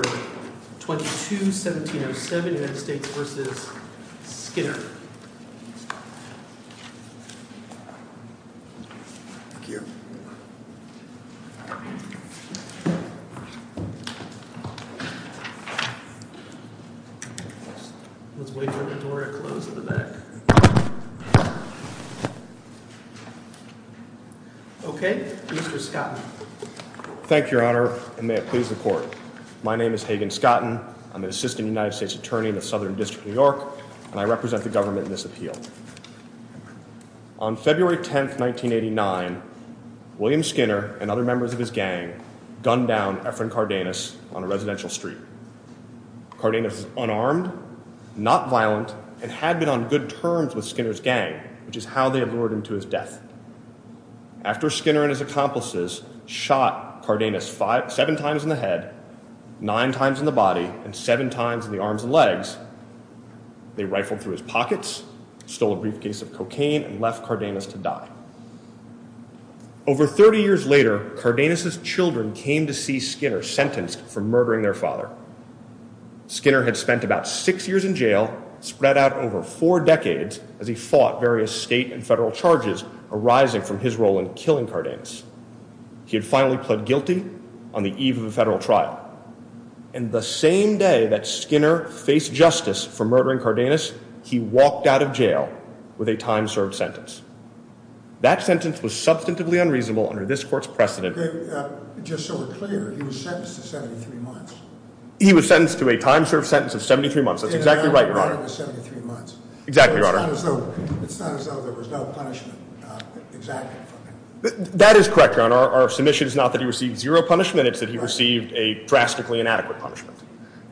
or 22-1707 U.S. v. Skinner. Okay. Mr. Scott. Thank you, Your Honor, and may it please the Court. My name is Hagen Scotten. I'm an assistant United States attorney in the Southern District of New York, and I represent the government in this appeal. On February 10th, 1989, William Skinner and other members of his gang gunned down Efren Cardenas on a residential street. Cardenas was unarmed, not violent, and had been on good terms with Skinner's gang, which is how they lured him to his death. After Skinner and his accomplices shot Cardenas seven times in the head, nine times in the body, and seven times in the arms and legs, they rifled through his pockets, stole a briefcase of cocaine, and left Cardenas to die. Over 30 years later, Cardenas' children came to see Skinner sentenced for murdering their father. Skinner had spent about six years in jail, spread out over four decades as he fought various state and federal charges arising from his role in killing Cardenas. He had finally pled guilty on the eve of a federal trial. And the same day that Skinner faced justice for murdering Cardenas, he walked out of jail with a time-served sentence. That sentence was substantively unreasonable under this Court's precedent. Okay, just so we're clear, he was sentenced to 73 months. He was sentenced to a time-served sentence of 73 months. That's exactly right, Your Honor. Yeah, he was sentenced to 73 months. Exactly, Your Honor. It's not as though there was no punishment exactly for that. That is correct, Your Honor. Our submission is not that he received zero punishment, it's that he received a drastically inadequate punishment.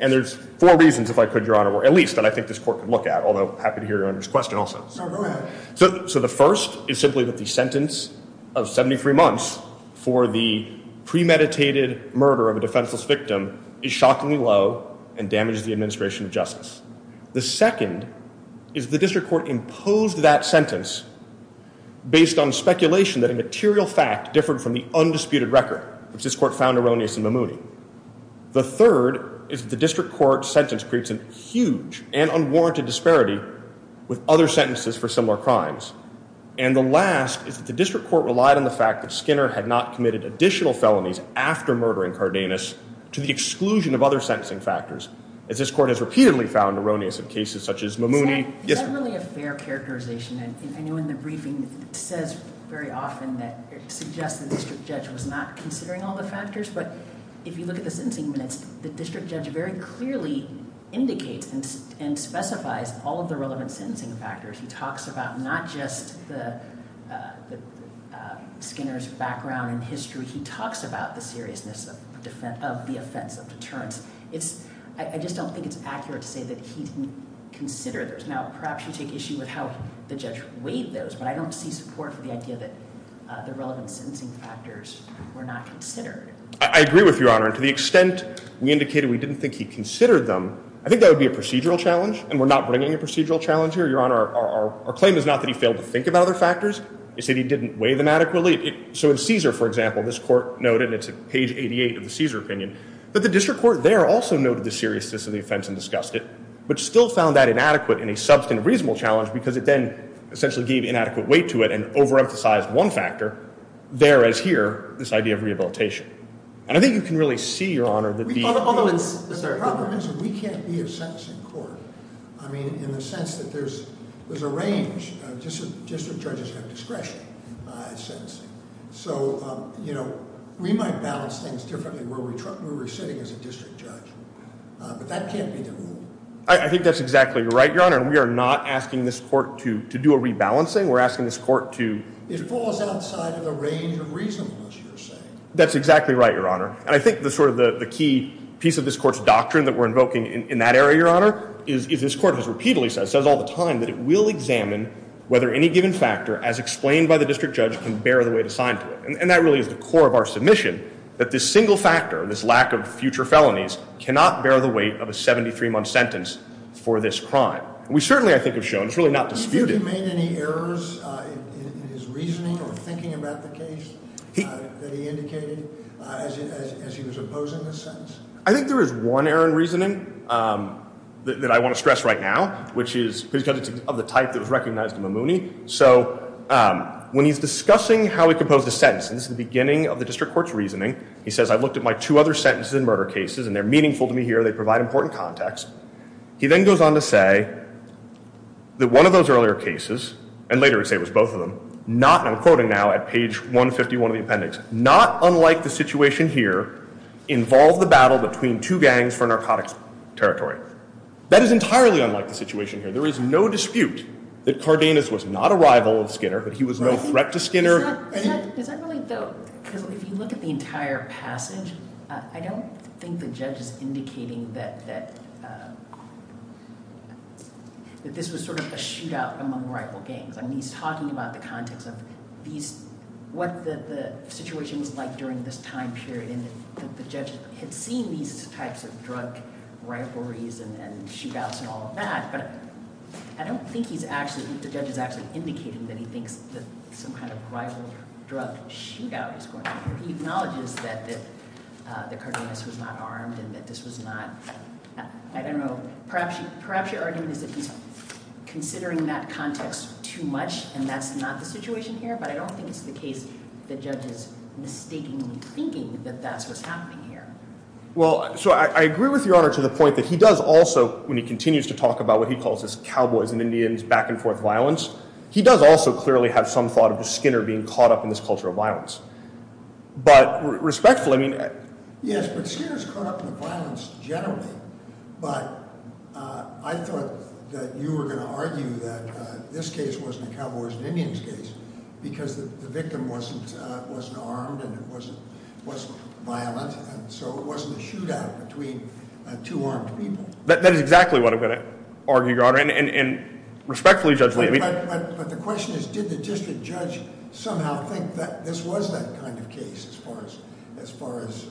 And there's four reasons, if I could, Your Honor, or at least, that I think this Court could look at, although I'm happy to hear Your Honor's question also. Sure, go ahead. So the first is simply that the sentence of 73 months for the premeditated murder of a defenseless victim is shockingly low and damages the administration of justice. The second is the District Court imposed that sentence based on speculation that a material fact differed from the undisputed record, which this Court found erroneous in Mamouni. The third is that the District Court sentence creates a huge and unwarranted disparity with other sentences for similar crimes. And the last is that the District Court relied on the fact that Skinner had not committed additional felonies after murdering Cardenas to the exclusion of other sentencing factors, as this Court has repeatedly found erroneous in cases such as Mamouni. Is that really a fair characterization? I know in the briefing it says very often that it suggests the district judge was not considering all the factors, but if you look at the sentencing minutes, the district judge very clearly indicates and specifies all of the relevant sentencing factors. He talks about not just Skinner's background and history, he talks about the seriousness of the offense, of deterrence. I just don't think it's accurate to say that he didn't consider those. Now perhaps you take issue with how the judge weighed those, but I don't see support for the idea that the relevant sentencing factors were not considered. I agree with you, Your Honor, and to the extent we indicated we didn't think he considered them, I think that would be a procedural challenge, and we're not bringing a procedural challenge here, Your Honor. Our claim is not that he failed to think about other factors, it's that he didn't weigh them adequately. So in Caesar, for example, this Court noted, and it's page 88 of the Caesar opinion, that the district court there also noted the seriousness of the offense and discussed it, but still found that inadequate in a substantive reasonable challenge because it then essentially gave inadequate weight to it and overemphasized one factor, there as here, this idea of rehabilitation. And I think you can really see, Your Honor, that the... The problem is we can't be a sentencing court. I mean, in the sense that there's a range. District judges have discretion in sentencing. So, you know, we might balance things differently where we're sitting as a district judge. But that can't be the rule. I think that's exactly right, Your Honor. And we are not asking this Court to do a rebalancing. We're asking this Court to... It falls outside of the range of reasonableness, you're saying. That's exactly right, Your Honor. And I think the key piece of this Court's doctrine that we're invoking in that area, Your Honor, is this Court has repeatedly said, says all the time, that it will examine whether any given factor, as explained by the district judge, can bear the weight assigned to it. And that really is the core of our submission, that this single factor, this lack of future felonies, cannot bear the weight of a 73-month sentence for this crime. We certainly, I think, have shown, it's really not disputed... Have you made any errors in his reasoning or thinking about the case that he indicated as he was opposing the sentence? I think there is one error in reasoning that I want to stress right now, which is because it's of the type that was recognized in Mamouni. So, when he's discussing how he composed the sentence, and this is the beginning of the district court's reasoning, he says, I've looked at my two other sentences in murder cases, and they're meaningful to me here, they provide important context. He then goes on to say that one of those earlier cases, and later he'd say it was both of them, not, and I'm quoting now at page 151 of the appendix, not unlike the situation here, involved the battle between two gangs for narcotics territory. That is entirely unlike the situation here. There is no dispute that Cardenas was not a rival of Skinner, that he was no threat to Skinner. Is that really, though, because if you look at the entire passage, I don't think the judge is indicating that this was sort of a shootout among rival gangs. I mean, he's talking about the context of these, what the situation was like during this time period, and that the judge had seen these types of drug rivalries and shootouts and all of that, but I don't think the judge is actually indicating that he thinks that some kind of rival drug shootout is going on here. He acknowledges that Cardenas was not armed, and that this was not, I don't know, perhaps your argument is that he's considering that context too much, and that's not the situation here, but I don't think it's the case that the judge is mistakenly thinking that that's what's happening here. Well, so I agree with Your Honor to the point that he does also, when he continues to talk about what he calls this cowboys and Indians back-and-forth violence, he does also clearly have some thought of Skinner being caught up in this culture of violence. But respectfully, I mean... Yes, but Skinner's caught up in the violence generally, but I thought that you were going to argue that this case wasn't a cowboys and Indians case because the victim wasn't armed and wasn't violent, and so it wasn't a shootout between two armed people. That is exactly what I'm going to argue, Your Honor, and respectfully, Judge Lee... But the question is, did the district judge somehow think that this was that kind of case as far as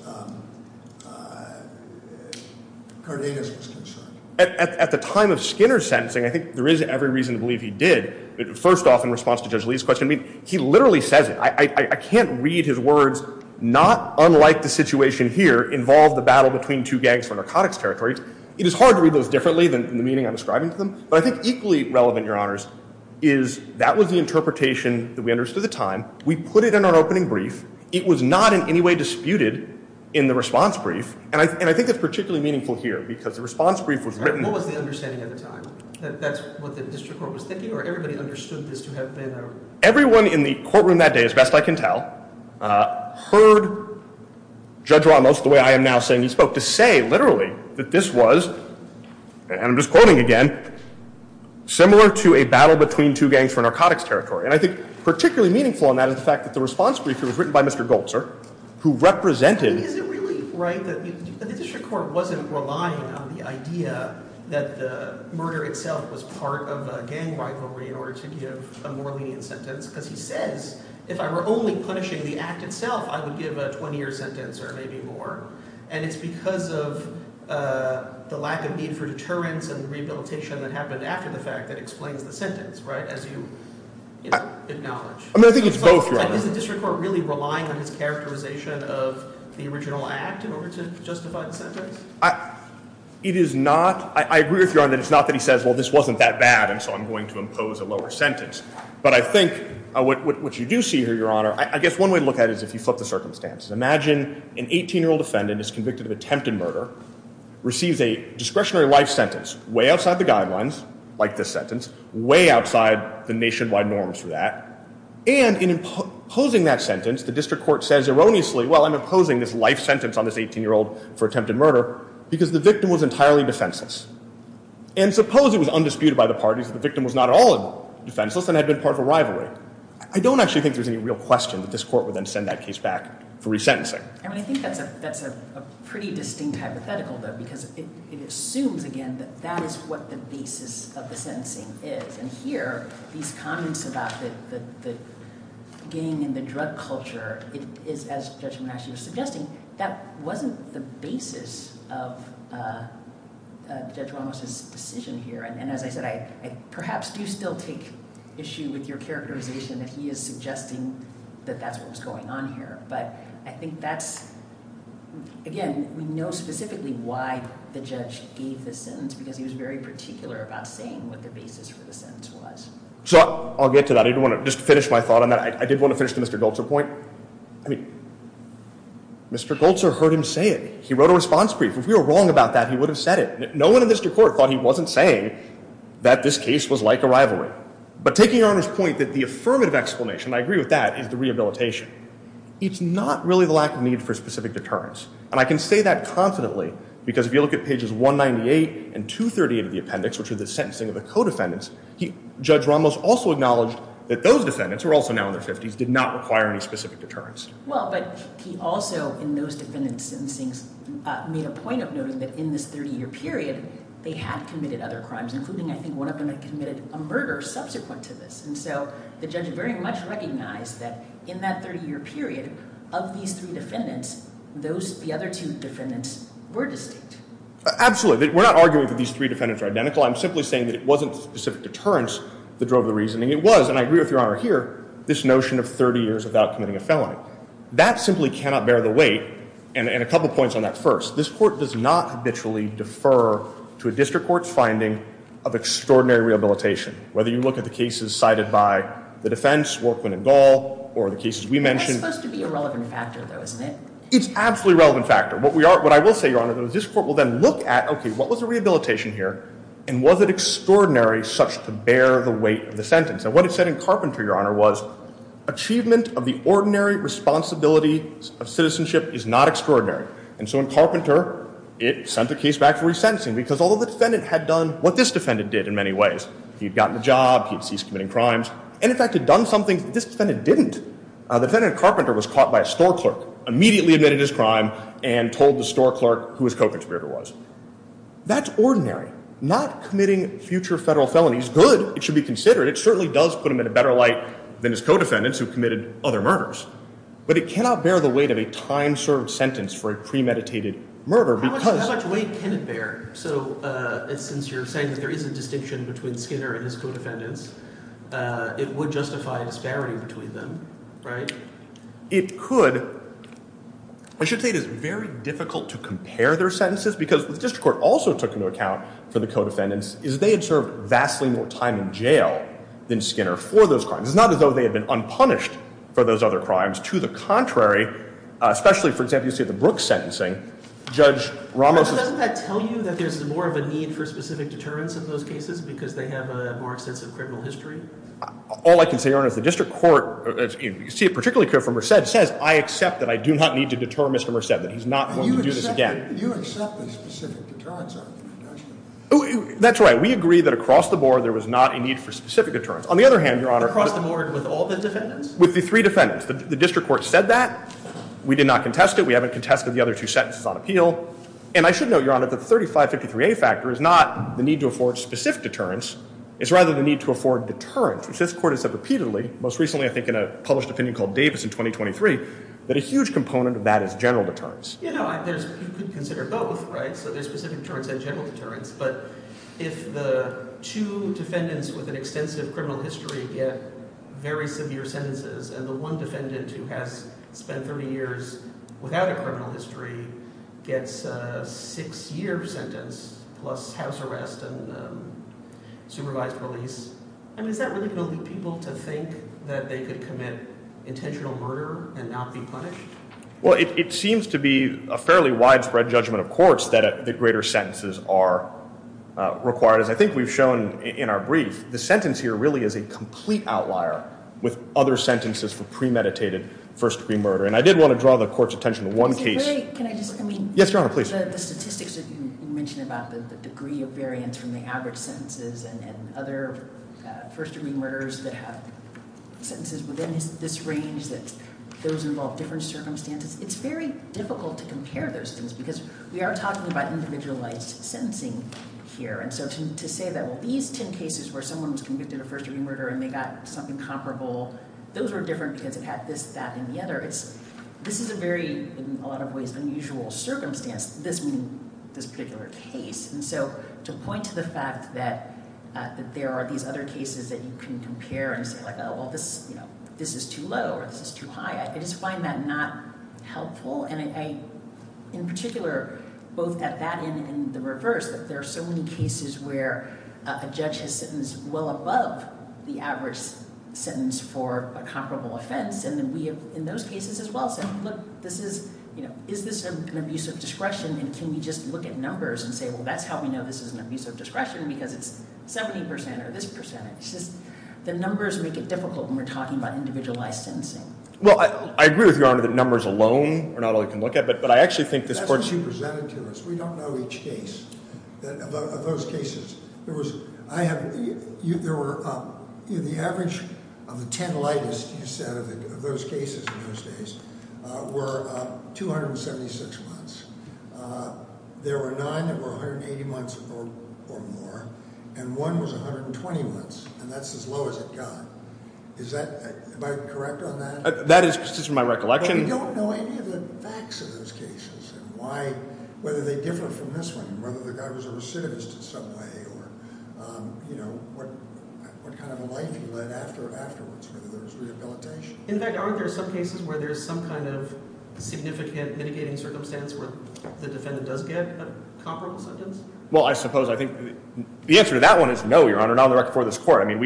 Cardenas was concerned? At the time of Skinner's sentencing, I think there is every reason to believe he did. First off, in response to Judge Lee's question, I mean, he literally says it. I can't read his words, not unlike the situation here involved the battle between two gangs for narcotics territories. It is hard to read those differently than the meaning I'm ascribing to them, but I think equally relevant, Your Honors, is that was the interpretation that we understood at the time. We put it in our opening brief. It was not in any way disputed in the response brief, and I think that's particularly meaningful here because the response brief was written... What was the understanding at the time? That that's what the district court was thinking or everybody understood this to have been? Everyone in the courtroom that day, as best I can tell, heard Judge Ramos, the way I am now saying he spoke, to say literally that this was, and I'm just quoting again, similar to a battle between two gangs for narcotics territory. And I think particularly meaningful on that is the fact that the response brief was written by Mr. Goldzer, who represented... Is it really right that the district court wasn't relying on the idea that the murder itself was part of a gang rivalry in order to give a more lenient sentence? Because he says, if I were only punishing the act itself, I would give a 20-year sentence or maybe more. And it's because of the lack of need for deterrence and rehabilitation that happened after the fact acknowledge. Is the district court really relying on his characterization of the original act in order to justify the sentence? It is not. I agree with Your Honor that it's not that he says, well, this wasn't that bad, and so I'm going to impose a lower sentence. But I think what you do see here, Your Honor, I guess one way to look at it is if you flip the circumstances. Imagine an 18-year-old defendant is convicted of attempted murder, receives a discretionary life sentence way outside the guidelines, like this sentence, way outside the nationwide norms for that, and in imposing that sentence, the district court says erroneously, well, I'm imposing this life sentence on this 18-year-old for attempted murder because the victim was entirely defenseless. And suppose it was undisputed by the parties that the victim was not at all defenseless and had been part of a rivalry. I don't actually think there's any real question that this court would then send that case back for resentencing. I mean, I think that's a pretty distinct hypothetical, though, because it assumes, again, that that is what the basis of the sentencing is. And here, these comments about the being in the drug culture, as Judge Monash was suggesting, that wasn't the basis of Judge Ramos' decision here. And as I said, I perhaps do still take issue with your characterization that he is suggesting that that's what was going on here. But I think that's, again, we know specifically why the judge gave the sentence, because he was very particular about saying what the basis for the sentence was. So, I'll get to Mr. Goltzer's point. Mr. Goltzer heard him say it. He wrote a response brief. If we were wrong about that, he would have said it. No one in this court thought he wasn't saying that this case was like a rivalry. But taking your Honor's point that the affirmative explanation, and I agree with that, is the rehabilitation. It's not really the lack of need for specific deterrence. And I can say that confidently, because if you look at pages 198 and 238 of the appendix, which are the sentencing of the co-defendants, Judge Ramos also acknowledged that those defendants, who are also now in their 50s, did not require any specific deterrence. Well, but he also, in those defendants' sentencing, made a point of noting that in this 30-year period, they had committed other crimes, including, I think, one of them that committed a murder subsequent to this. And so, the judge very much recognized that in that 30-year period, of these three defendants, the other two defendants were distinct. Absolutely. We're not arguing that these three defendants are identical. I'm simply saying that it wasn't the specific deterrence that drove the reasoning. It was, and I agree with Your Honor here, this notion of 30 years without committing a felony. That simply cannot bear the weight, and a couple points on that first. This Court does not habitually defer to a district court's finding of extraordinary rehabilitation, whether you look at the cases cited by the defense, Warquan and Gall, or the cases we mentioned. That's supposed to be a relevant factor, though, isn't it? It's absolutely a relevant factor. What I will say, Your Honor, is this Court will then look at, okay, what was the rehabilitation here, and was it extraordinary such to bear the weight of the sentence? And what it said in Carpenter, Your Honor, was, achievement of the ordinary responsibility of citizenship is not extraordinary. And so in Carpenter, it sent the case back for resentencing, because although the defendant had done what this defendant did in many ways, he had gotten a job, he had ceased committing crimes, and, in fact, had done something that this defendant didn't. The defendant in Carpenter was caught by a store clerk, immediately admitted his crime, and told the store clerk who his co-contributor was. That's ordinary. Not committing future federal felonies, good, it should be considered. It certainly does put him in a better light than his co-defendants who committed other murders. But it cannot bear the weight of a time-served sentence for a premeditated murder, because... How much weight can it bear? So, since you're saying that there is a distinction between Skinner and his co-defendants, it would justify a disparity between them, right? It could. I should say it is very difficult to compare their sentences, because the district court also took into account for the co-defendants is they had served vastly more time in jail than Skinner for those crimes. It's not as though they had been unpunished for those other crimes. To the contrary, especially, for example, you see at the Brooks sentencing, Judge Ramos... But doesn't that tell you that there's more of a need for specific deterrence in those cases, because they have a more extensive criminal history? All I can say, Your Honor, is the district court, as you see particularly from Merced, says, I accept that I do not need to deter Mr. Merced, that he's not going to do this again. You accept the specific deterrence? That's right. We agree that across the board there was not a need for specific deterrence. On the other hand, Your Honor... Across the board with all the defendants? With the three defendants. The district court said that. We did not contest it. We haven't contested the other two sentences on appeal. And I should note, Your Honor, that the 3553A factor is not the need to afford specific deterrence. It's rather the need to afford deterrence, which this court has said repeatedly, most recently, I think, in a published opinion called Davis in 2023, that a huge component of that is general deterrence. You know, you could consider both, right? So there's specific deterrence and general deterrence, but if the two defendants with an extensive criminal history get very severe sentences and the one defendant who has spent 30 years without a criminal history gets a six-year sentence plus house arrest and supervised release, I mean, is that really going to lead people to think that they could commit intentional murder and not be punished? Well, it seems to be a fairly widespread judgment of courts that greater sentences are required. As I think we've shown in our brief, the sentence here really is a complete outlier with other sentences for premeditated first-degree murder. And I did want to draw the court's attention to one case. Can I just, I mean... Yes, Your Honor, please. The statistics that you mentioned about the degree of variance from the average sentences and other first-degree murderers that have sentences within this range, that those involve different circumstances, it's very difficult to compare those things because we are talking about individualized sentencing here. And so to say that, well, these 10 cases where someone was convicted of first-degree murder and they got something comparable, those were different because it had this, that, and the other, it's, this is a very, in a lot of ways, unusual circumstance, this meaning this particular case. And so to point to the fact that there are these other cases that you can compare and say, well, this is too low or this is too high, I just find that not helpful. And I, in particular, both at that end and the reverse, that there are so many cases where a judge has sentenced well above the average sentence for a comparable offense. And then we have, in those cases as well, said, look, this is, you know, is this an abuse of discretion and can we just look at numbers and say, well, that's how we know this is an abuse of discretion because it's 70% or this percentage. It's just the numbers make it difficult when we're talking about individualized sensing. Well, I agree with Your Honor that numbers alone are not all you can look at, but I actually think this court... That's what you presented to us. We don't know each case. Of those cases, there was, I have, there were, the average of the 10 lightest, you said, of those cases in those days were 276 months. There were 9 that were 180 months or more, and one was 120 months, and that's as low as it got. Is that, am I correct on that? That is, just from my recollection... But we don't know any of the facts of those cases and why, whether they differ from this one, whether the guy was a recidivist in some way or you know, what kind of a life he led after, afterwards, whether there was rehabilitation. In fact, aren't there some cases where there's some kind of significant mitigating circumstance where the defendant does get a comparable sentence? Well, I suppose, I think the answer to that one is no, Your Honor, not on the record for this court. I mean,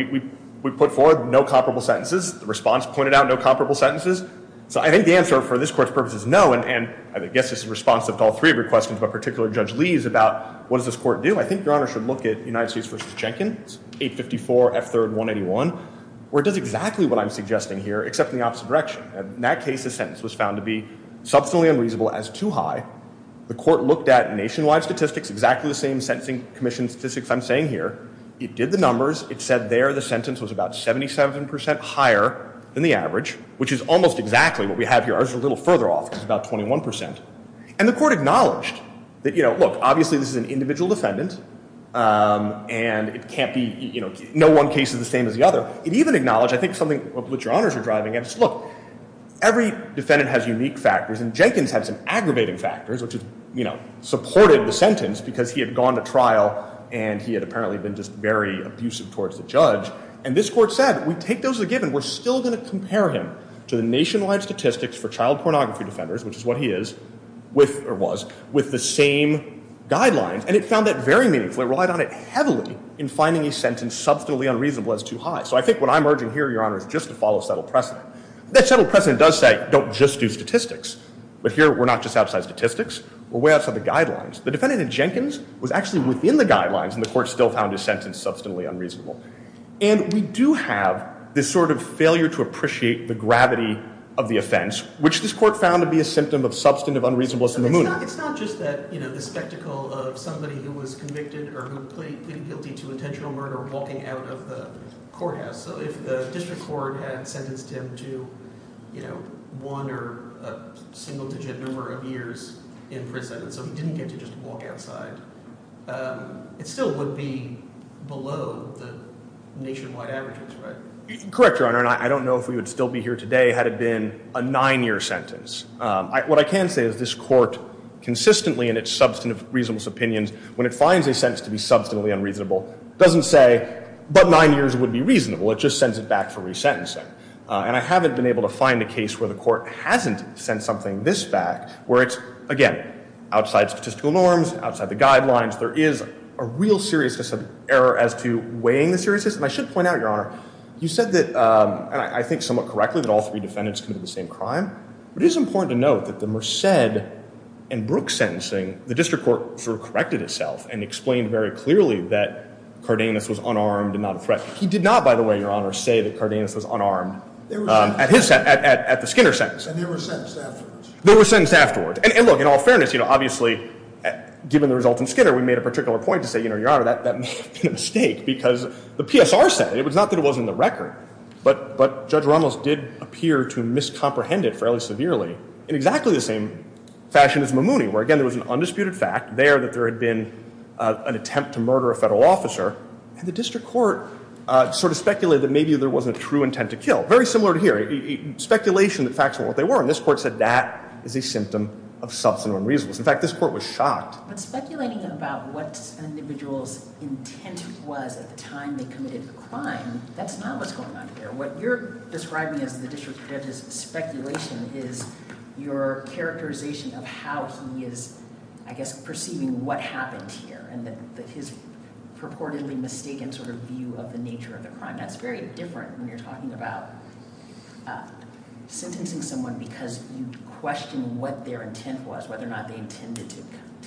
we put forward no comparable sentences. The response pointed out no comparable sentences. So I think the answer for this court's purpose is no, and I guess this is responsive to all three of your questions, but particularly Judge Lee's about what does this court do? I think Your Honor should look at United States v. Chenkin, 854 F. 3rd. 181, where it does exactly what I'm suggesting here, except in the opposite direction. In that case, the sentence was found to be substantially unreasonable as too high. The court looked at nationwide statistics, exactly the same sentencing commission statistics I'm saying here. It did the numbers. It said there the sentence was about 77% higher than the average, which is almost exactly what we have here. Ours is a little further off. It's about 21%. And the court acknowledged that, you know, look, obviously this is an individual defendant and it as the other. It even acknowledged, I think, something that Your Honors are driving at. It's, look, every defendant has unique factors and Jenkins had some aggravating factors, which is, you know, supported the sentence because he had gone to trial and he had apparently been just very abusive towards the judge. And this court said, we take those as a given. We're still going to compare him to the nationwide statistics for child pornography defenders, which is what he is, with, or was, with the same guidelines. And it found that very meaningful. It relied on it heavily in finding a sentence substantially unreasonable as too high. So I think what I'm urging here, Your Honors, just to follow settled precedent. That settled precedent does say, don't just do statistics. But here, we're not just outside statistics. We're way outside the guidelines. The defendant in Jenkins was actually within the guidelines and the court still found his sentence substantially unreasonable. And we do have this sort of failure to appreciate the gravity of the offense, which this court found to be a symptom of substantive unreasonableness in the moot. It's not just that, you know, the spectacle of somebody who was convicted or who pleaded guilty to a crime, but it's also the fact that he was in a courthouse. So if the district court had sentenced him to, you know, one or a single-digit number of years in prison so he didn't get to just walk outside, it still would be below the nationwide averages, right? Correct, Your Honor. And I don't know if we would still be here today had it been a nine-year sentence. What I can say is this court consistently in its substantive unreasonable doesn't say, but nine years would be reasonable. It just sends it back for resentencing. And I haven't been able to find a case where the court hasn't sent something this back where it's, again, outside statistical norms, outside the guidelines. There is a real seriousness of error as to weighing the seriousness. And I should point out, Your Honor, you said that, I think somewhat correctly, that all three defendants committed the same crime. It is important to note that the Merced and Brooke sentencing, the district court sort of corrected itself and explained very clearly that Cardenas was unarmed and not a threat. He did not, by the way, Your Honor, say that Cardenas was unarmed at his sentence, at the Skinner sentence. And there were sentences afterwards. There were sentences afterwards. And look, in all fairness, obviously given the result in Skinner, we made a particular point to say, Your Honor, that may have been a mistake because the PSR said it. It was not that it wasn't in the record. But Judge Ramos did appear to miscomprehend it fairly severely in exactly the same fashion as Mamouni, where again there was an undisputed fact there that there had been an attempt to murder a federal officer. And the district court sort of speculated that maybe there wasn't a true intent to kill. Very similar to here. Speculation that facts were what they were. And this court said that is a symptom of substantive unreasonable. In fact, this court was shocked. But speculating about what an individual's intent was at the time they committed the crime, that's not what's going on here. What you're describing as the district judge's speculation is your characterization of how he is I guess perceiving what happened here and that his purportedly mistaken sort of view of the nature of the crime. That's very different when you're talking about sentencing someone because you question what their intent was, whether or not they intended to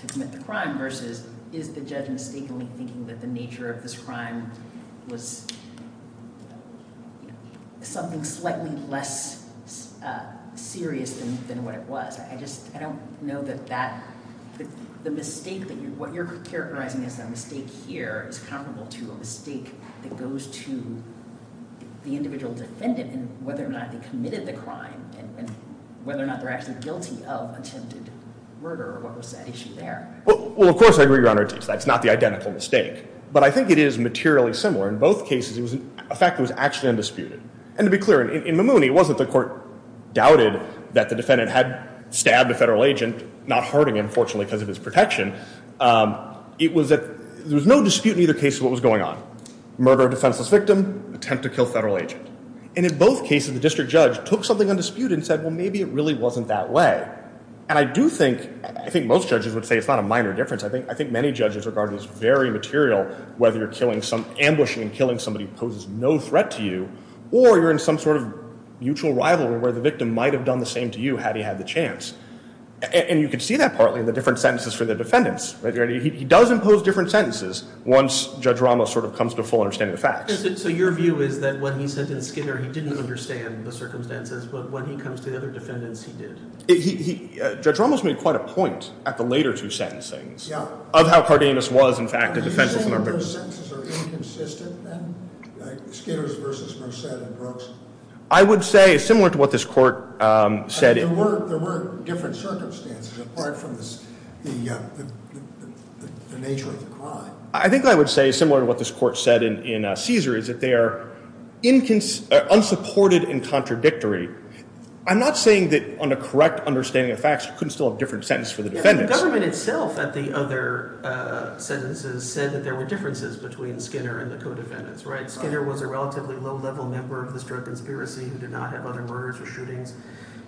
commit the crime versus is the judge mistakenly thinking that the nature of this crime was something slightly less serious than what it was. I don't know that the mistake that what you're characterizing as a mistake here is comparable to a mistake that goes to the individual defendant and whether or not they committed the crime and whether or not they're actually guilty of attempted murder or what was that issue there. Well, of course, I agree, Your Honor. That's not the identical mistake. But I think it is materially similar. In both cases, it was a fact that was actually undisputed. And to be clear, in Mamouni, it wasn't the court doubted that the defendant had stabbed a federal agent, not hurting him, fortunately, because of his protection. It was that there was no dispute in either case of what was going on. Murder of defenseless victim, attempt to kill federal agent. And in both cases, the district judge took something undisputed and said, well, maybe it really wasn't that way. And I do think, I think most judges would say it's not a minor difference. I think many judges regard this very material, whether you're killing some, ambushing and killing somebody who is no threat to you, or you're in some sort of mutual rivalry where the victim might have done the same to you, had he had the chance. And you can see that partly in the different sentences for the defendants. He does impose different sentences once Judge Ramos sort of comes to a full understanding of the facts. So your view is that when he sentenced Skinner, he didn't understand the circumstances, but when he comes to the other defendants, he did. Judge Ramos made quite a point at the later two sentencings of how Cardenas was, in fact, a defenseless member. Are Skinner's sentences inconsistent then? Skinner's versus Merced and Brooks? I would say similar to what this court said There were different circumstances apart from the nature of the crime. I think I would say, similar to what this court said in Caesar, is that they are unsupported and contradictory. I'm not saying that on a correct understanding of facts, you couldn't still have a different sentence for the defendants. The government itself at the other sentences said that there were differences between Skinner and the co-defendants. Skinner was a relatively low-level member of the Stroke Conspiracy who did not have other murders or shootings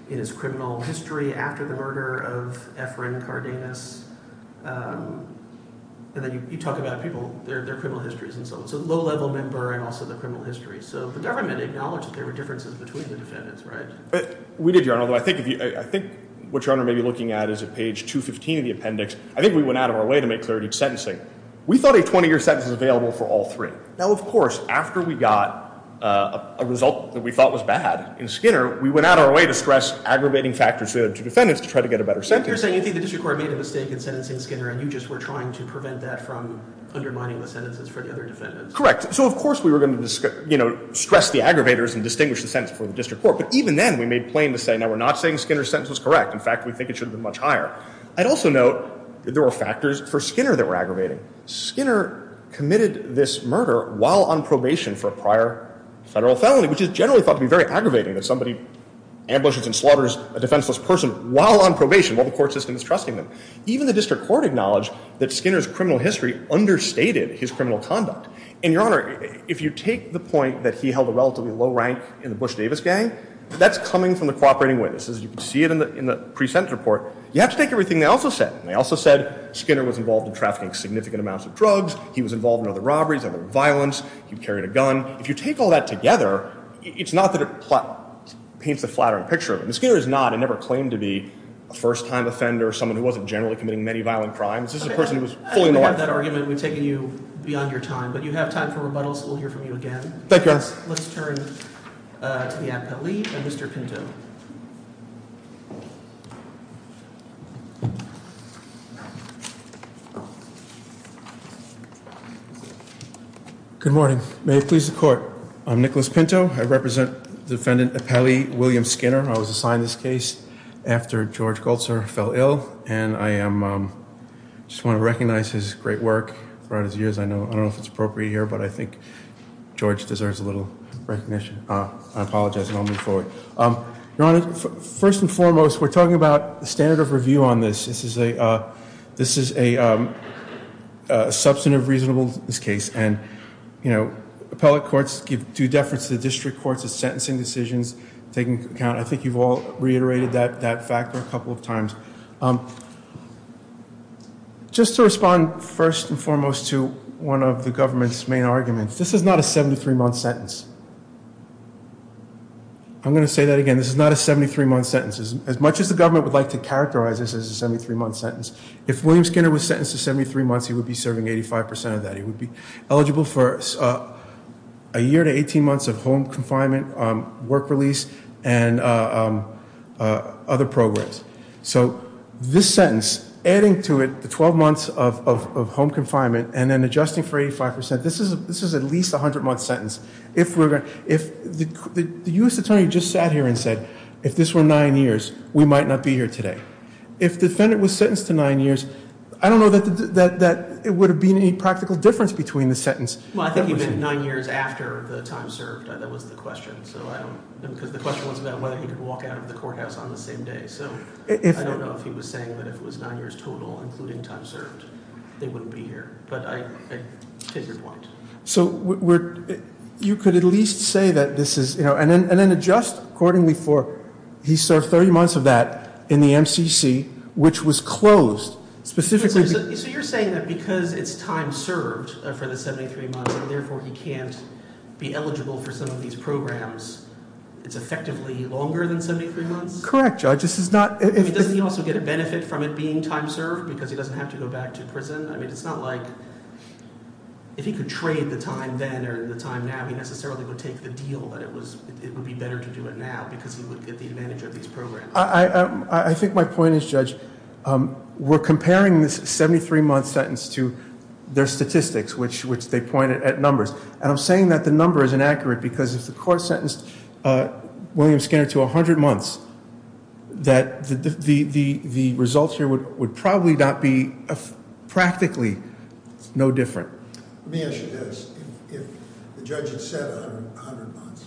in his criminal history after the murder of Efren Cardenas. You talk about people, their criminal histories and so on. So low-level member and also the criminal history. So the government acknowledged that there were differences between the defendants, right? We did, Your Honor. I think what Your Honor may be looking at is at page 215 of the appendix. I think we went out of our way to make clarity of sentencing. We thought a 20-year sentence was available for all three. Now, of course, after we got a result that we thought was bad in Skinner, we went out of our way to stress aggravating factors to defendants to try to get a better sentence. You're saying you think the District Court made a mistake in sentencing Skinner and you just were trying to prevent that from undermining the sentences for the other defendants? Correct. So of course we were going to stress the aggravators and distinguish the sentence for the District Court. But even then, we made plain to say, now we're not saying Skinner's sentence was correct. In fact, we think it should have been much higher. I'd also note that there were factors for Skinner that were aggravating. Skinner committed this murder while on probation for a prior federal felony, which is generally thought to be very aggravating that somebody ambushes and slaughters a defenseless person while on probation, while the court system is trusting them. Even the District Court acknowledged that Skinner's criminal history understated his criminal conduct. And Your Honor, if you take the point that he held a relatively low rank in the Bush-Davis gang, that's coming from the cooperating witnesses. You can see it in the pre-sentence report. You have to take everything they also said. They also said Skinner was involved in trafficking significant amounts of drugs. He was involved in other robberies, other violence. He carried a gun. If you take all that together, it's not that it paints a flattering picture of him. Skinner is not, and never claimed to be, a first-time offender, someone who wasn't generally committing many violent crimes. This is a person who was fully normal. I don't have that argument. We've taken you beyond your time. But you have time for rebuttals. We'll hear from you again. Thank you, Your Honor. Let's turn to the appellee, Mr. Pinto. Good morning. May it please the Court, I'm Nicholas Pinto. I represent defendant Appellee William Skinner. I was assigned this case after George Goltzer fell ill, and I just want to recognize his great work throughout his years. I don't know if it's appropriate here, but I think George deserves a little recognition. I apologize, and I'll move forward. Your Honor, first and foremost, we're talking about the standard of review on this. This is a substantive reasonableness of this case, and appellate courts give due deference to the district courts of sentencing decisions, taking into account, I think you've all reiterated that factor a couple of times. Just to respond, first and foremost, to one of the government's main arguments. This is not a I'm going to say that again. This is not a 73-month sentence. As much as the government would like to characterize this as a 73-month sentence, if William Skinner was sentenced to 73 months, he would be serving 85% of that. He would be eligible for a year to 18 months of home confinement, work release, and other programs. So this sentence, adding to it the 12 months of home confinement, and then adjusting for 85%, this is at least a 100-month sentence. The U.S. Attorney just sat here and said, if this were 9 years, we might not be here today. If the defendant was sentenced to 9 years, I don't know that it would have been any practical difference between the sentence Well, I think he meant 9 years after the time served. That was the question. The question was about whether he could walk out of the courthouse on the same day. I don't know if he was saying that if it was 9 years total, including time served, they wouldn't be here. But I take your point. So you could at least say that this is... And then adjust accordingly for he served 30 months of that in the MCC, which was closed. Specifically... So you're saying that because it's time served for the 73 months, and therefore he can't be eligible for some of these programs, it's effectively longer than 73 months? Correct, Judge. This is not... Doesn't he also get a benefit from it being time served? Because he doesn't have to go back to prison? I mean, it's not like... If he could trade the time then or the time now, he necessarily would take the deal that it would be better to do it now because he would get the advantage of these programs. I think my point is, Judge, we're comparing this 73-month sentence to their statistics, which they pointed at numbers. And I'm saying that the number is inaccurate because if the court sentenced William Skinner to 100 months, that the results here would probably not be practically no different. Let me ask you this. If the judge had said 100 months,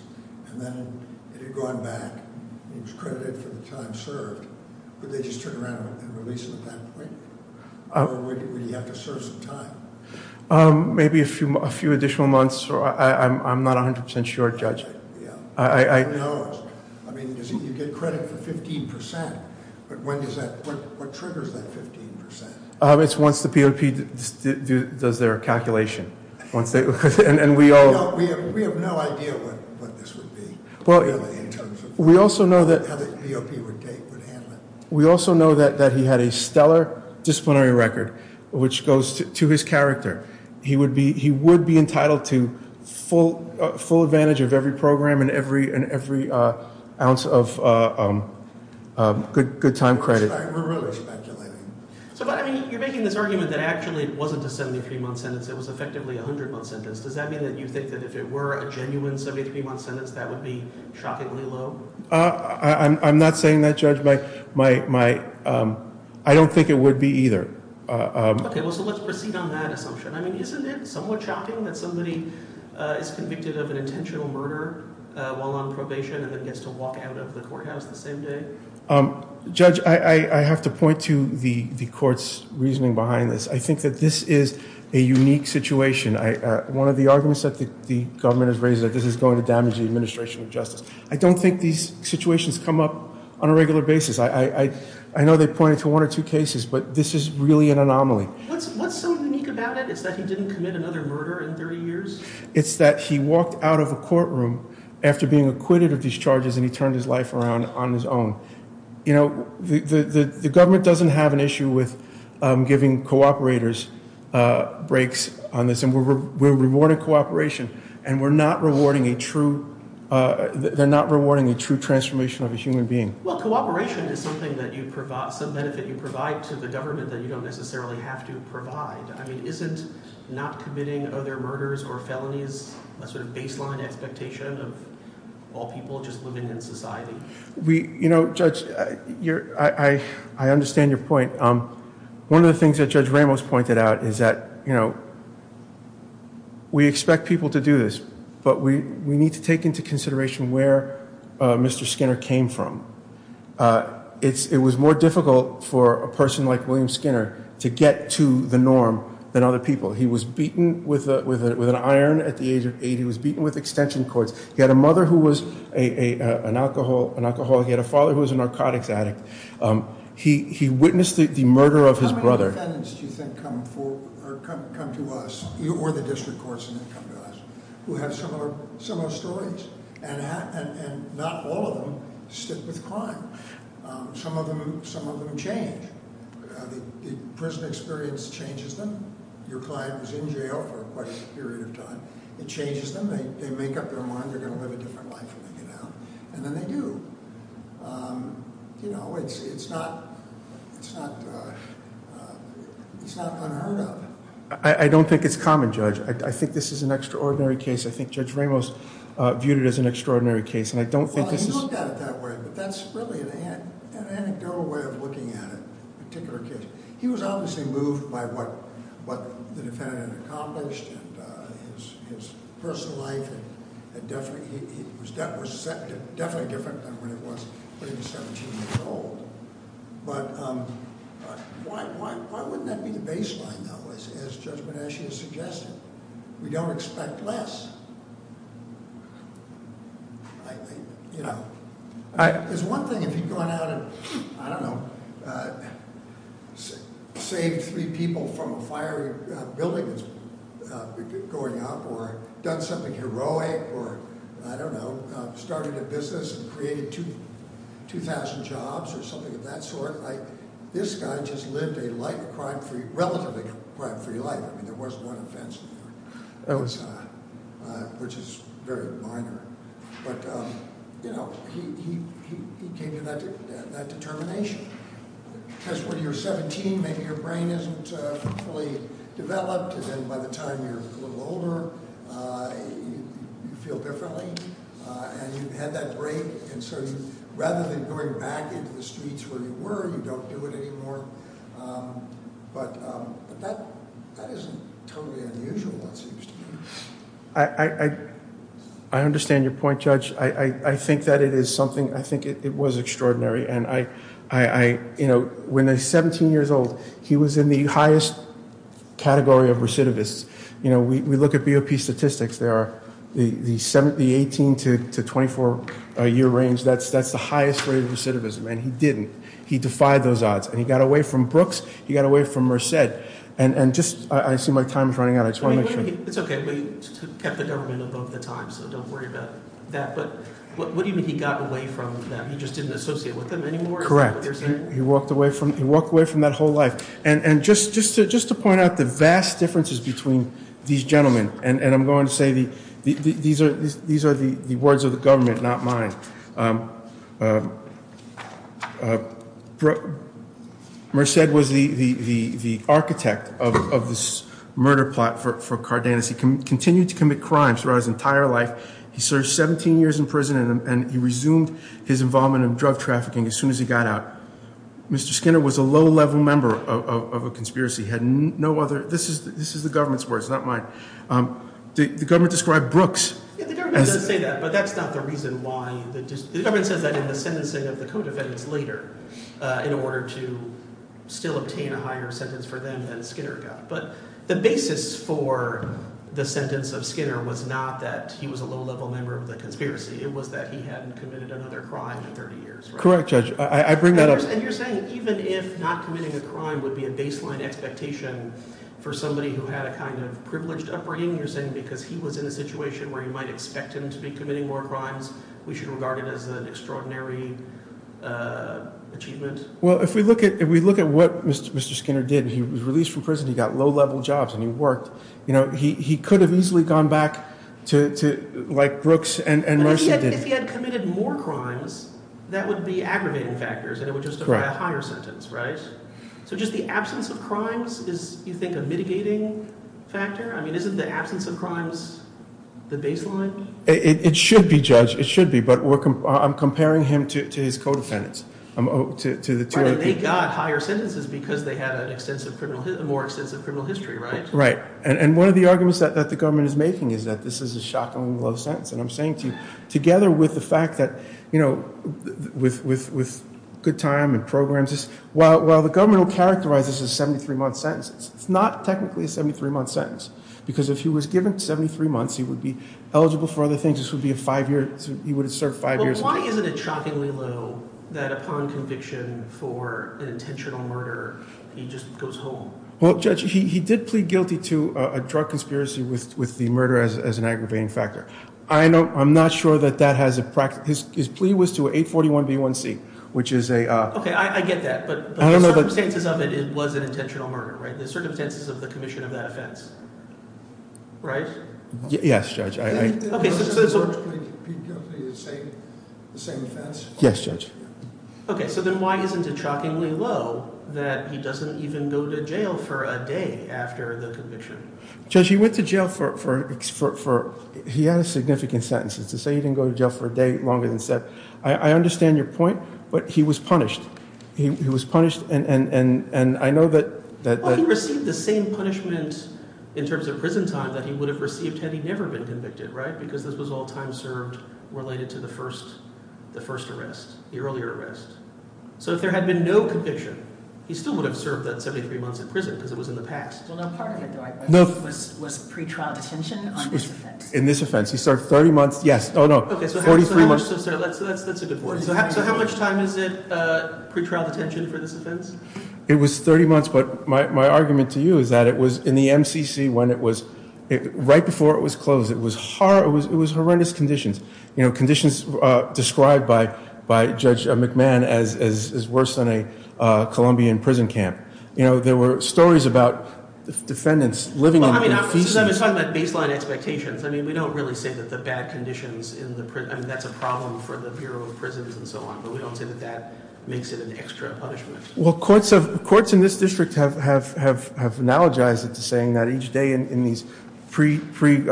and then it had gone back, he was credited for the time served, would they just turn around and release him at that point? Or would he have to serve some time? Maybe a few additional months. I'm not 100% sure, Judge. Who knows? I mean, you get credit for 15%, but what triggers that 15%? It's once the POP does their calculation. We have no idea what this would be. How the POP would handle it. We also know that he had a stellar disciplinary record, which goes to his character. He would be entitled to full advantage of every program and every ounce of good time credit. You're making this argument that actually it wasn't a 73-month sentence, it was effectively a 100-month sentence. Does that mean that you think that if it were a genuine 73-month sentence, that would be shockingly low? I'm not saying that, Judge. I don't think it would be either. Let's proceed on that assumption. Isn't it somewhat shocking that somebody is convicted of an intentional murder while on probation and then gets to walk out of the courthouse the same day? Judge, I have to point to the court's reasoning behind this. I think that this is a unique situation. One of the arguments that the government has raised is that this is going to damage the administration of justice. I don't think these situations come up on a regular basis. I know they point to one or two cases, but this is really an anomaly. What's so unique about it is that he didn't commit another murder in 30 years? It's that he walked out of the courtroom after being acquitted of these charges and he turned his life around on his own. You know, the government doesn't have an issue with giving cooperators breaks on this. We're rewarding cooperation, and we're not rewarding a true transformation of a human being. Well, cooperation is something that you provide, some benefit you provide to the government that you don't necessarily have to provide. I mean, isn't not committing other murders or felonies a sort of baseline expectation of all people just living in society? You know, Judge, I understand your point. One of the things that Judge Ramos pointed out is that we expect people to do this, but we need to take into consideration where Mr. Skinner came from. It was more difficult for a person like William Skinner to get to the norm than other people. He was beaten with an iron at the age of eight. He was beaten with extension cords. He had a mother who was an alcoholic. He had a father who was a narcotics addict. He witnessed the murder of his brother. How many defendants do you think come to us or the district courts who have similar stories and not all of them stick with crime? Some of them do change. Prison experience changes them. Your client was in jail for a period of time. It changes them. They make up their mind they're going to live a different life when they get out, and then they do. You know, it's not unheard of. I don't think it's common, Judge. I think this is an extraordinary case. I think Judge Ramos viewed it as an extraordinary case. He looked at it that way, but that's really an anecdotal way of looking at it, a particular case. He was obviously moved by what the defendant had accomplished and his personal life was definitely different than when it was when he was 17 years old. But why wouldn't that be the baseline though, as Judge Benashia suggested? We don't expect less. You know, it's one thing if you've gone out and, I don't know, saved three people from a fiery building that's going up or done something heroic or, I don't know, started a business and created 2,000 jobs or something of that sort. This guy just lived a relatively crime-free life. I mean, there wasn't one offense in there, which is very minor. But, you know, he came to that determination. Because when you're 17, maybe your brain isn't fully developed and then by the time you're a little older you feel differently and you've had that break and so rather than going back into the streets where you were, you don't do it anymore. But that isn't totally unusual it seems to me. I understand your point, Judge. I think that it is something, I think it was extraordinary. When they're 17 years old he was in the highest category of recidivists. We look at BOP statistics, the 18 to 24 year range, that's the highest rate of recidivism. And he didn't. He defied those odds. He got away from Brooks, he got away from Merced. And just, I see my time is running out. I just want to make sure. It's okay. We kept the government above the times. So don't worry about that. What do you mean he got away from them? He just didn't associate with them anymore? Correct. He walked away from that whole life. And just to point out the vast differences between these gentlemen, and I'm going to say these are the words of the government, not mine. Merced was the murder plot for Cardenas. He continued to commit crimes throughout his entire life. He served 17 years in prison and he resumed his involvement in drug trafficking as soon as he got out. Mr. Skinner was a low-level member of a conspiracy. This is the government's words, not mine. The government described Brooks as... The government doesn't say that, but that's not the reason why. The government says that in the sentencing of the co-defendants later, in order to still obtain a higher sentence for them than Skinner got. But the basis for the sentence of Skinner was not that he was a low-level member of the conspiracy. It was that he hadn't committed another crime in 30 years. Correct, Judge. I bring that up. And you're saying even if not committing a crime would be a baseline expectation for somebody who had a kind of privileged upbringing, you're saying because he was in a situation where you might expect him to be committing more crimes, we should regard it as an extraordinary achievement? Well, if we look at what Mr. Skinner did, he was released from prison, he got low-level jobs, and he worked. He could have easily gone back to like Brooks and Mercer did. But if he had committed more crimes, that would be aggravating factors, and it would just have been a higher sentence, right? So just the absence of crimes is, you think, a mitigating factor? I mean, isn't the absence of crimes the baseline? It should be, Judge. It should be. But I'm comparing him to his co-defendants. Right, and they got higher sentences because they had a more extensive criminal history, right? Right. And one of the arguments that the government is making is that this is a shockingly low sentence. And I'm saying to you, together with the fact that, you know, with good time and programs, while the government will characterize this as a 73-month sentence, it's not technically a 73-month sentence. Because if he was given 73 months, he would be eligible for other things. He would have served five years in prison. Well, why isn't it shockingly low that upon conviction for an intentional murder, he just goes home? Well, Judge, he did plead guilty to a drug conspiracy with the murder as an aggravating factor. I'm not sure that that has a... His plea was to a 841b1c, which is a... Okay, I get that. But the circumstances of it, it was an intentional murder, right? The circumstances of the commission of that offense. Right? Yes, Judge. Okay, so... Yes, Judge. Okay, so then why isn't it shockingly low that he doesn't even go to jail for a day after the conviction? Judge, he went to jail for... He had a significant sentence. To say he didn't go to jail for a day longer than... I understand your point, but he was punished. He was punished, and I know that... Well, he received the same punishment in terms of prison time that he would have received had he never been convicted, right? Because this was all time served related to the first arrest, the earlier arrest. So if there had been no conviction, he still would have served that 73 months in prison because it was in the past. Well, now part of it, though, I guess, was pretrial detention on this offense. In this offense. He served 30 months... Yes. Oh, no. Okay, so how much... That's a good point. So how much time is it, pretrial detention, for this offense? It was 30 months, but my argument to you is that it was in the MCC when it was... Right before it was closed, it was horrendous conditions. Conditions described by Judge McMahon as worse than a Colombian prison camp. There were stories about defendants living in... I'm just talking about baseline expectations. I mean, we don't really say that the bad conditions in the prison... I mean, that's a problem for the Bureau of Prisons and so on, but we don't say that that makes it an extra punishment. Well, courts in this district have analogized it to saying that each day in these pre... in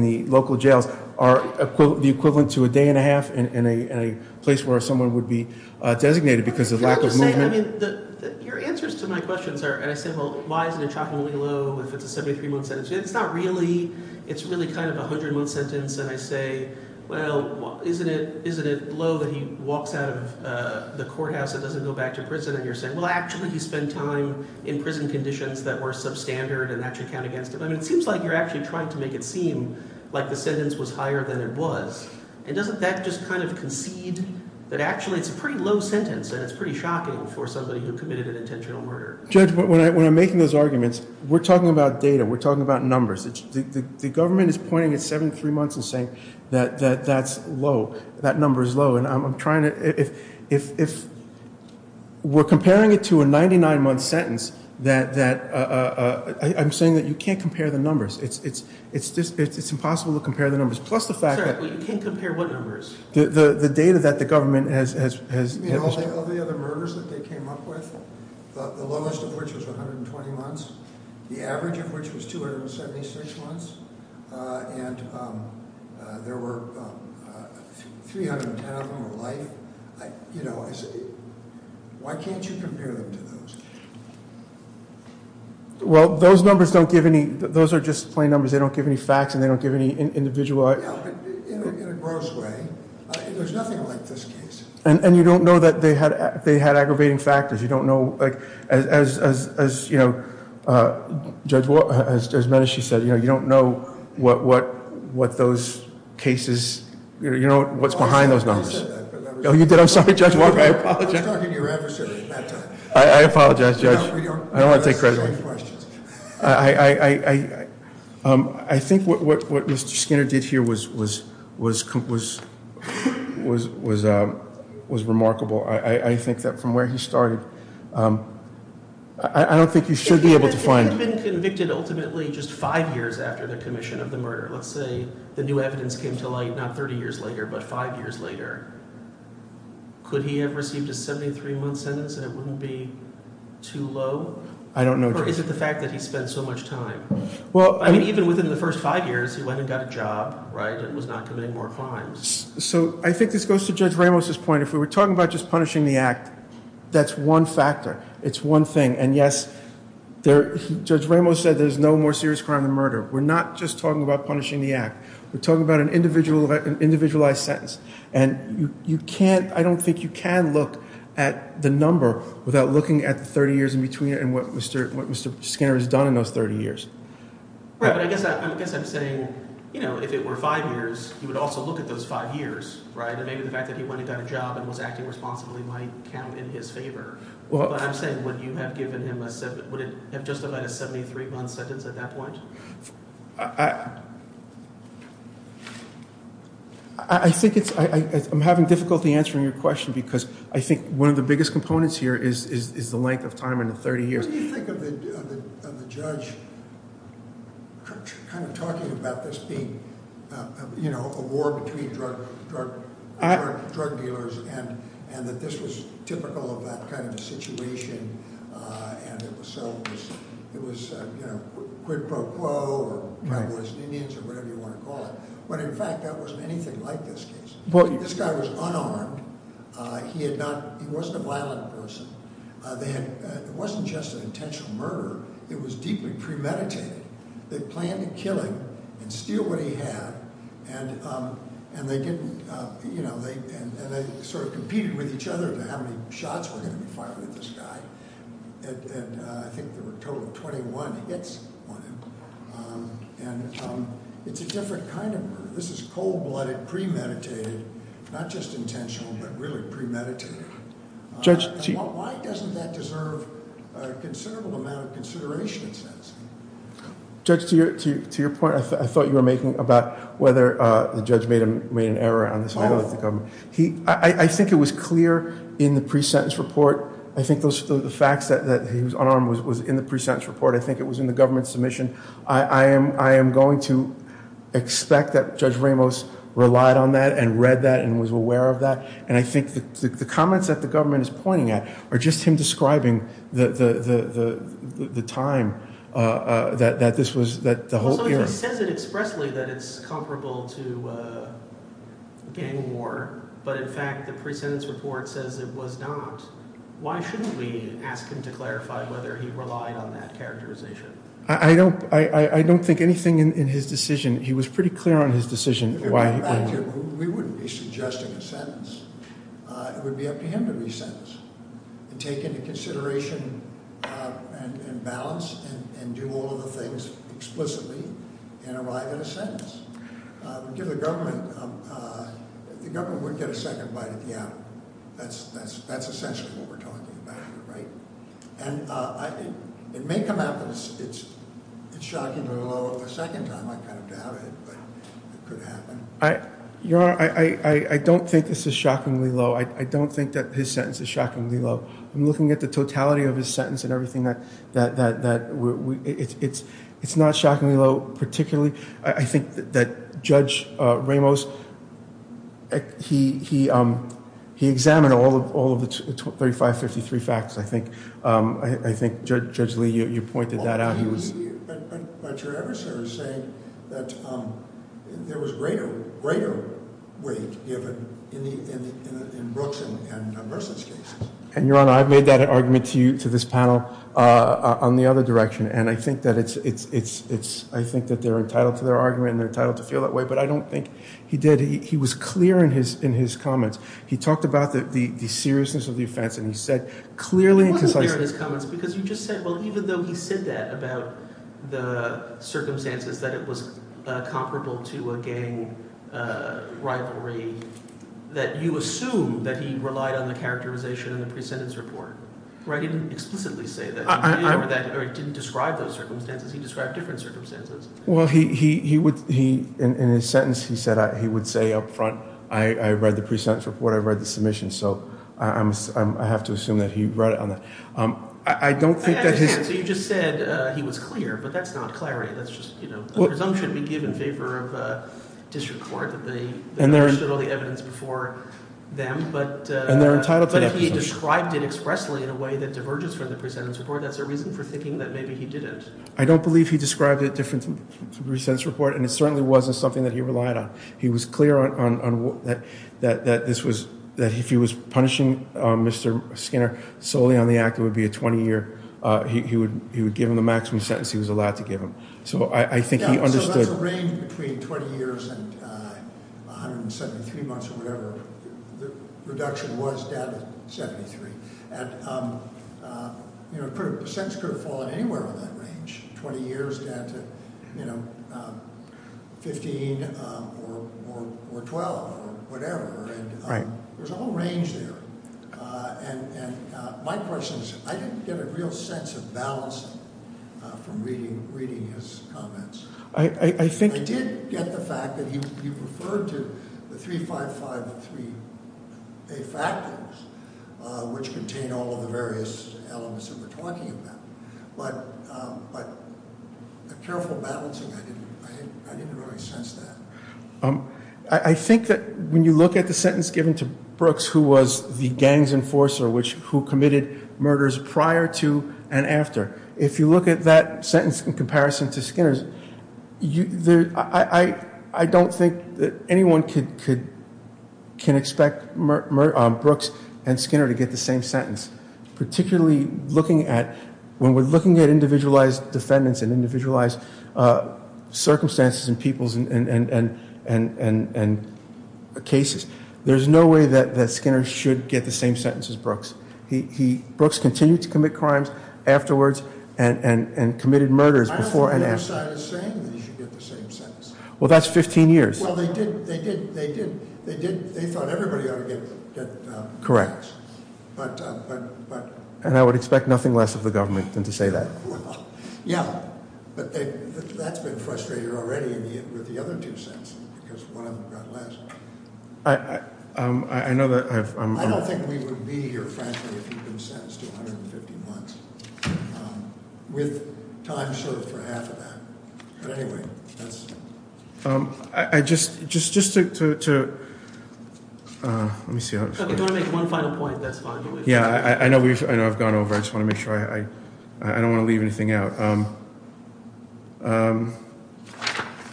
the local jails are the equivalent to a day and a half in a place where someone would be designated because of lack of movement. Your answers to my questions are, and I say, well, why isn't it shockingly low if it's a 73-month sentence? It's not really... It's really kind of a 100-month sentence and I say, well, isn't it low that he walks out of the courthouse and doesn't go back to prison and you're saying, well, actually he spent time in prison conditions that were substandard and that should count against him? I mean, it seems like you're actually trying to make it seem like the sentence was higher than it was. And doesn't that just kind of concede that actually it's a pretty low sentence and it's pretty shocking for somebody who committed an intentional murder? Judge, when I'm making those arguments, we're talking about data. We're talking about numbers. The government is pointing at 73 months and saying that that's low. That number is low and I'm trying to... If we're comparing it to a 99-month sentence that... I'm saying that you can't compare the numbers. It's impossible to compare the numbers plus the fact that... Sir, you can't compare what numbers? The data that the government has... All the other murders that they came up with, the lowest of which was 120 months, the average of which was 276 months and there were 310 of them were life. I said, why can't you compare them to those? Well, those numbers don't give any... Those are just plain numbers. They don't give any facts and they don't give any individual... In a gross way, there's nothing like this case. And you don't know that they had aggravating factors. You don't know... As Judge Medish said, you don't know what those cases... You don't know what's behind those numbers. Oh, you did? I'm sorry, Judge. I apologize, Judge. I don't want to take credit. I... I think what Mr. Skinner did here was... was... was remarkable. I think that from where he started, I don't think you should be able to find... If he had been convicted ultimately just five years after the commission of the murder, let's say the new evidence came to light not 30 years later but five years later, could he have received a 73-month sentence and it wouldn't be too low? I don't know, Judge. Or is it the fact that he spent so much time? Well... I mean, even within the first five years he went and got a job, right? And was not committing more crimes. So, I think this goes to Judge Ramos' point. If we were talking about just punishing the act, that's one factor. It's one thing. And yes, there... Judge Ramos said there's no more serious crime than murder. We're not just talking about punishing the act. We're talking about an individualized sentence. And you can't... I don't think you can look at the number without looking at the 30 years in between and what Mr. Skinner has done in those 30 years. Right, but I guess I'm saying you know, if it were five years, he would also look at those five years, right? And maybe the fact that he went and got a job and was acting responsibly might count in his favor. But I'm saying, would you have given him a... would it have justified a I... I think it's... I'm having difficulty answering your question because I think one of the biggest components here is the length of time in the 30 years. What do you think of the judge kind of talking about this being, you know, a war between drug dealers and that this was typical of that kind of a situation and it was so... quid pro quo or tribalist unions or whatever you want to call it. When in fact that wasn't anything like this case. This guy was unarmed. He had not... he wasn't a violent person. They had... It wasn't just an intentional murder. It was deeply premeditated. They planned to kill him and steal what he had and they didn't, you know, they sort of competed with each other about how many shots were going to be fired at this guy and I think there were a total of 21 hits on him. And it's a different kind of murder. This is cold-blooded, premeditated, not just intentional, but really premeditated. Why doesn't that deserve a considerable amount of consideration, it says. Judge, to your point, I thought you were making about whether the judge made an error on this. I think it was clear in the pre-sentence report. I think the facts that he was unarmed was in the pre-sentence report. I think it was in the government submission. I am going to expect that Judge Ramos relied on that and read that and was aware of that and I think the comments that the government is pointing at are just him describing the time that this was... It says it expressly that it's comparable to gang war, but in fact the pre-sentence report says it was not. Why shouldn't we ask him to clarify whether he relied on that characterization? I don't think anything in his decision. He was pretty clear on his decision. We wouldn't be suggesting a sentence. It would be up to him to be sentenced and take into consideration and balance and do all of the things explicitly and arrive at a sentence. The government would get a second bite at the animal. That's essentially what we're talking about. It may come out that it's shockingly low of a second time. I doubt it, but it could happen. Your Honor, I don't think this is shockingly low. I don't think that his sentence is shockingly low. I'm looking at the totality of his sentence and everything that... It's not shockingly low particularly. I think that Judge Ramos, he examined all of the 3553 facts. I think Judge Lee, you pointed that out. But your adversary is saying that there was greater weight given in Brooks and Burson's case. Your Honor, I've made that argument to this panel on the other direction. I think that they're entitled to their argument and they're entitled to feel that way. But I don't think he did. He was clear in his comments. He talked about the seriousness of the offense and he said clearly... He wasn't clear in his comments because you just said, well, even though he said that about the circumstances that it was comparable to a gang rivalry that you assume that he relied on the characterization in the pre-sentence report. He didn't explicitly say that. He didn't describe those circumstances. He described different circumstances. In his sentence, he would say up front, I read the pre-sentence report, I read the submission, so I have to assume that he read it on that. I don't think that his... You just said he was clear, but that's not clarity. That's just a presumption to be given in favor of district court that they understood all the evidence before them. But if he described it expressly in a way that diverges from the pre-sentence report, that's a reason for thinking that maybe he didn't. I don't believe he described it differently than the pre-sentence report, and it certainly wasn't something that he relied on. He was clear on that this was... If he was punishing Mr. Skinner solely on the act, it would be a 20-year... He would give him the maximum sentence he was allowed to give him. So I think he understood... So that's a range between 20 years and 173 months or whatever. The reduction was down to 73. And the sentence could have fallen anywhere on that range, 20 years down to 15 or 12 or whatever. There's a whole range there. And my question is, I didn't get a real sense of balance from reading his comments. I did get the fact that he referred to the 355-3A factors, which contain all of the various elements that we're talking about. But the careful balancing, I didn't really sense that. I think that when you look at the sentence given to Brooks, who was the gangs enforcer who committed murders prior to and after, if you look at that sentence in comparison to Skinner's, I don't think that anyone can expect Brooks and Skinner to get the same sentence. Particularly looking at, when we're looking at individualized defendants and individualized circumstances and peoples and cases, there's no way that Skinner should get the same sentence as Brooks. Brooks continued to commit crimes afterwards and committed murders before and after. I don't think they decided the same that he should get the same sentence. Well, that's 15 years. Well, they did. They thought everybody ought to get Correct. And I would expect nothing less of the government than to say that. Yeah, but that's been frustrated already with the other two sentences, because one of them got less. I know that I've... I don't think we would be here, frankly, if you'd been sentenced to 150 months. With time served for half of that. But anyway, that's... Just to... Let me see. If you want to make one final point, that's fine. Yeah, I know I've gone over. I just want to make sure I... I don't want to leave anything out.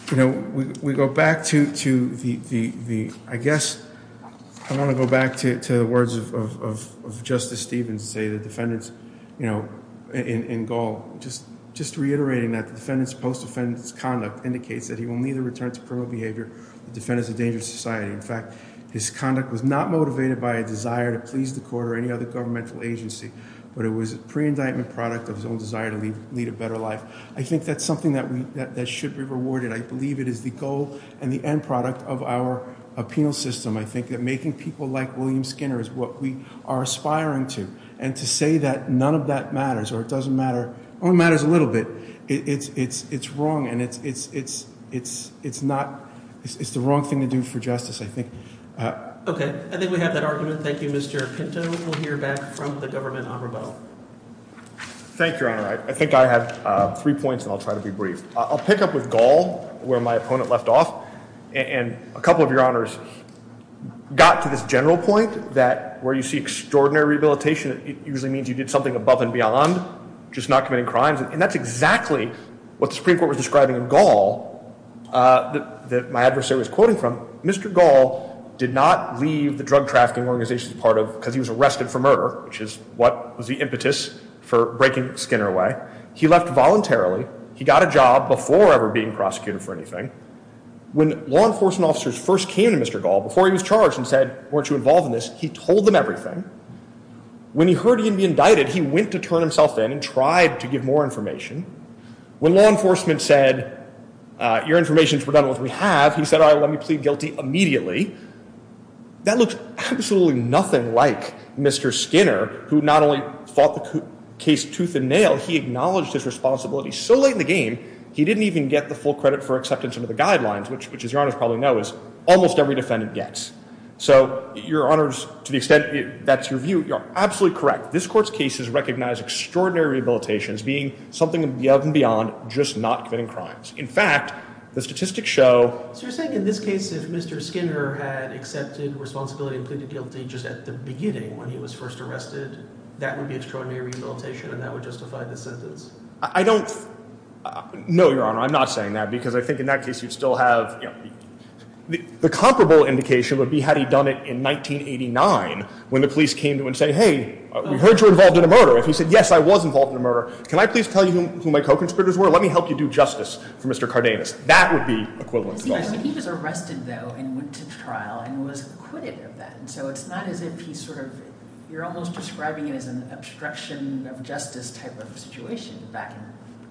You know, we go back to the... I guess I want to go back to the words of Justice Stevens, say the defendants in Gaul, just reiterating that the defendant's post-offense conduct indicates that he will neither return to criminal behavior or defend as a danger to society. In fact, his conduct was not motivated by a desire to please the court or any other governmental agency, but it was a pre-indictment product of his own desire to lead a better life. I think that's something that should be rewarded. I believe it is the goal and the end product of our penal system. I think that making people like William Skinner is what we are aspiring to. And to say that none of that matters, or it doesn't matter a little bit, it's wrong and it's not... it's the wrong thing to do for justice, I think. Okay. I think we have that argument. Thank you, Mr. Pinto. We'll hear back from the government honorable. Thank you, Your Honor. I think I have three points and I'll try to be brief. I'll pick up with Gaul, where my opponent left off, and a couple of Your Honors got to this general point that where you see extraordinary rehabilitation, it usually means you did something above and beyond, just not committing crimes, and that's exactly what the Supreme Court was describing in Gaul that my adversary was quoting from. Mr. Gaul did not leave the drug trafficking organization because he was arrested for murder, which is what was the impetus for breaking Skinner away. He left voluntarily. He got a job before ever being prosecuted for anything. When law enforcement officers first came to Mr. Gaul before he was charged and said, weren't you involved in this, he told them everything. When he heard he would be indicted, he went to turn himself in and tried to give more information. When law enforcement said, your information is redundant, which we have, he said, all right, let me plead guilty immediately. That looks absolutely nothing like Mr. Skinner, who not only fought the case tooth and nail, he acknowledged his responsibility so late in the game, he didn't even get the full credit for accepting some of the guidelines, which as Your Honors probably know, is almost every defendant gets. So, Your Honors, to the extent that's your view, you're absolutely correct. This Court's cases recognize extraordinary rehabilitations being something of and beyond just not committing crimes. In fact, the statistics show... So you're saying in this case if Mr. Skinner had accepted responsibility and pleaded guilty just at the beginning when he was first arrested, that would be extraordinary rehabilitation and that would justify this sentence? I don't... No, Your Honor, I'm not saying that because I think in that case you'd still have... The comparable indication would be had he done it in 1989 when the police came to him and said, hey, we heard you're involved in a murder. If he said, yes, I was involved in a murder, can I please tell you who my co-conspirators were? Let me help you do justice for Mr. Cardenas. That would be equivalent to... He was arrested, though, and went to trial and was acquitted of that. So it's not as if he sort of... You're almost describing it as an obstruction of justice type of situation back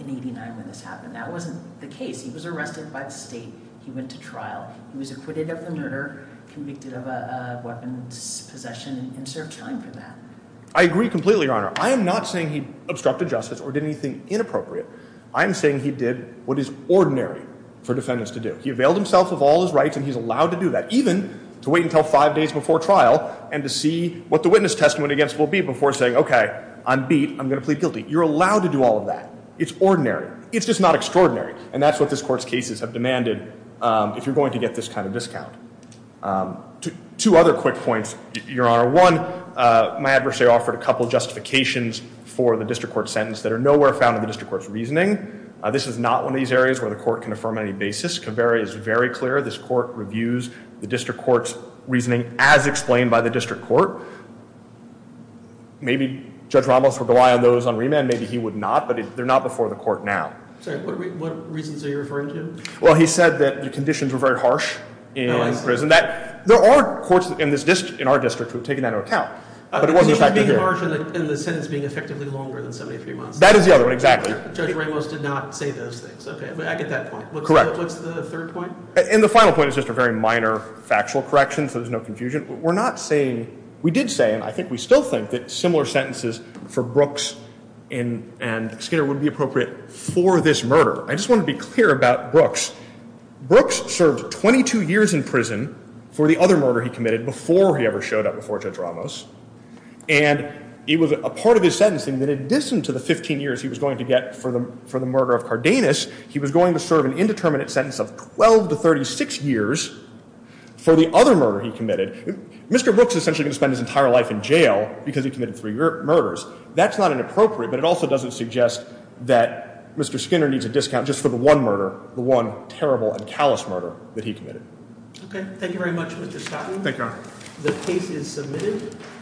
in 89 when this happened. That wasn't the case. He was arrested by the state. He went to trial. He was acquitted of the murder, convicted of a weapons possession and served time for that. I agree completely, Your Honor. I am not saying he obstructed justice or did anything inappropriate. I'm saying he did what is ordinary for defendants to do. He availed himself of all his rights and he's allowed to do that, even to wait until five days before trial and to see what the witness testament against will be before saying, okay, I'm beat. I'm going to plead guilty. You're allowed to do all of that. It's ordinary. It's just not extraordinary. And that's what this court's cases have demanded if you're going to get this kind of discount. Two other quick points, Your Honor. One, my adversary offered a couple justifications for the district court sentence that are nowhere found in the district court's reasoning. This is not one of these areas where the court can affirm any basis. It's very clear this court reviews the district court's reasoning as explained by the district court. Maybe Judge Ramos would rely on those on remand. Maybe he would not. But they're not before the court now. What reasons are you referring to? Well, he said that the conditions were very harsh in prison. There are courts in our district who have taken that into account. The sentence being effectively longer than 73 months. That is the other one, exactly. Judge Ramos did not say those things. I get that point. Correct. What's the third point? And the final point is just a very minor factual correction so there's no confusion. We're not saying, we did say and I think we still think that similar sentences for Brooks and for this murder. I just want to be clear about Brooks. Brooks served 22 years in prison for the other murder he committed before he ever showed up before Judge Ramos. And it was a part of his sentencing that in addition to the 15 years he was going to get for the murder of Cardenas, he was going to serve an indeterminate sentence of 12 to 36 years for the other murder he committed. Mr. Brooks is essentially going to spend his entire life in jail because he committed three murders. That's not inappropriate but it also doesn't suggest that Mr. Skinner needs a discount just for the one murder. The one terrible and callous murder that he committed. Okay. Thank you very much Mr. Scotton. Thank you, Your Honor. The case is submitted.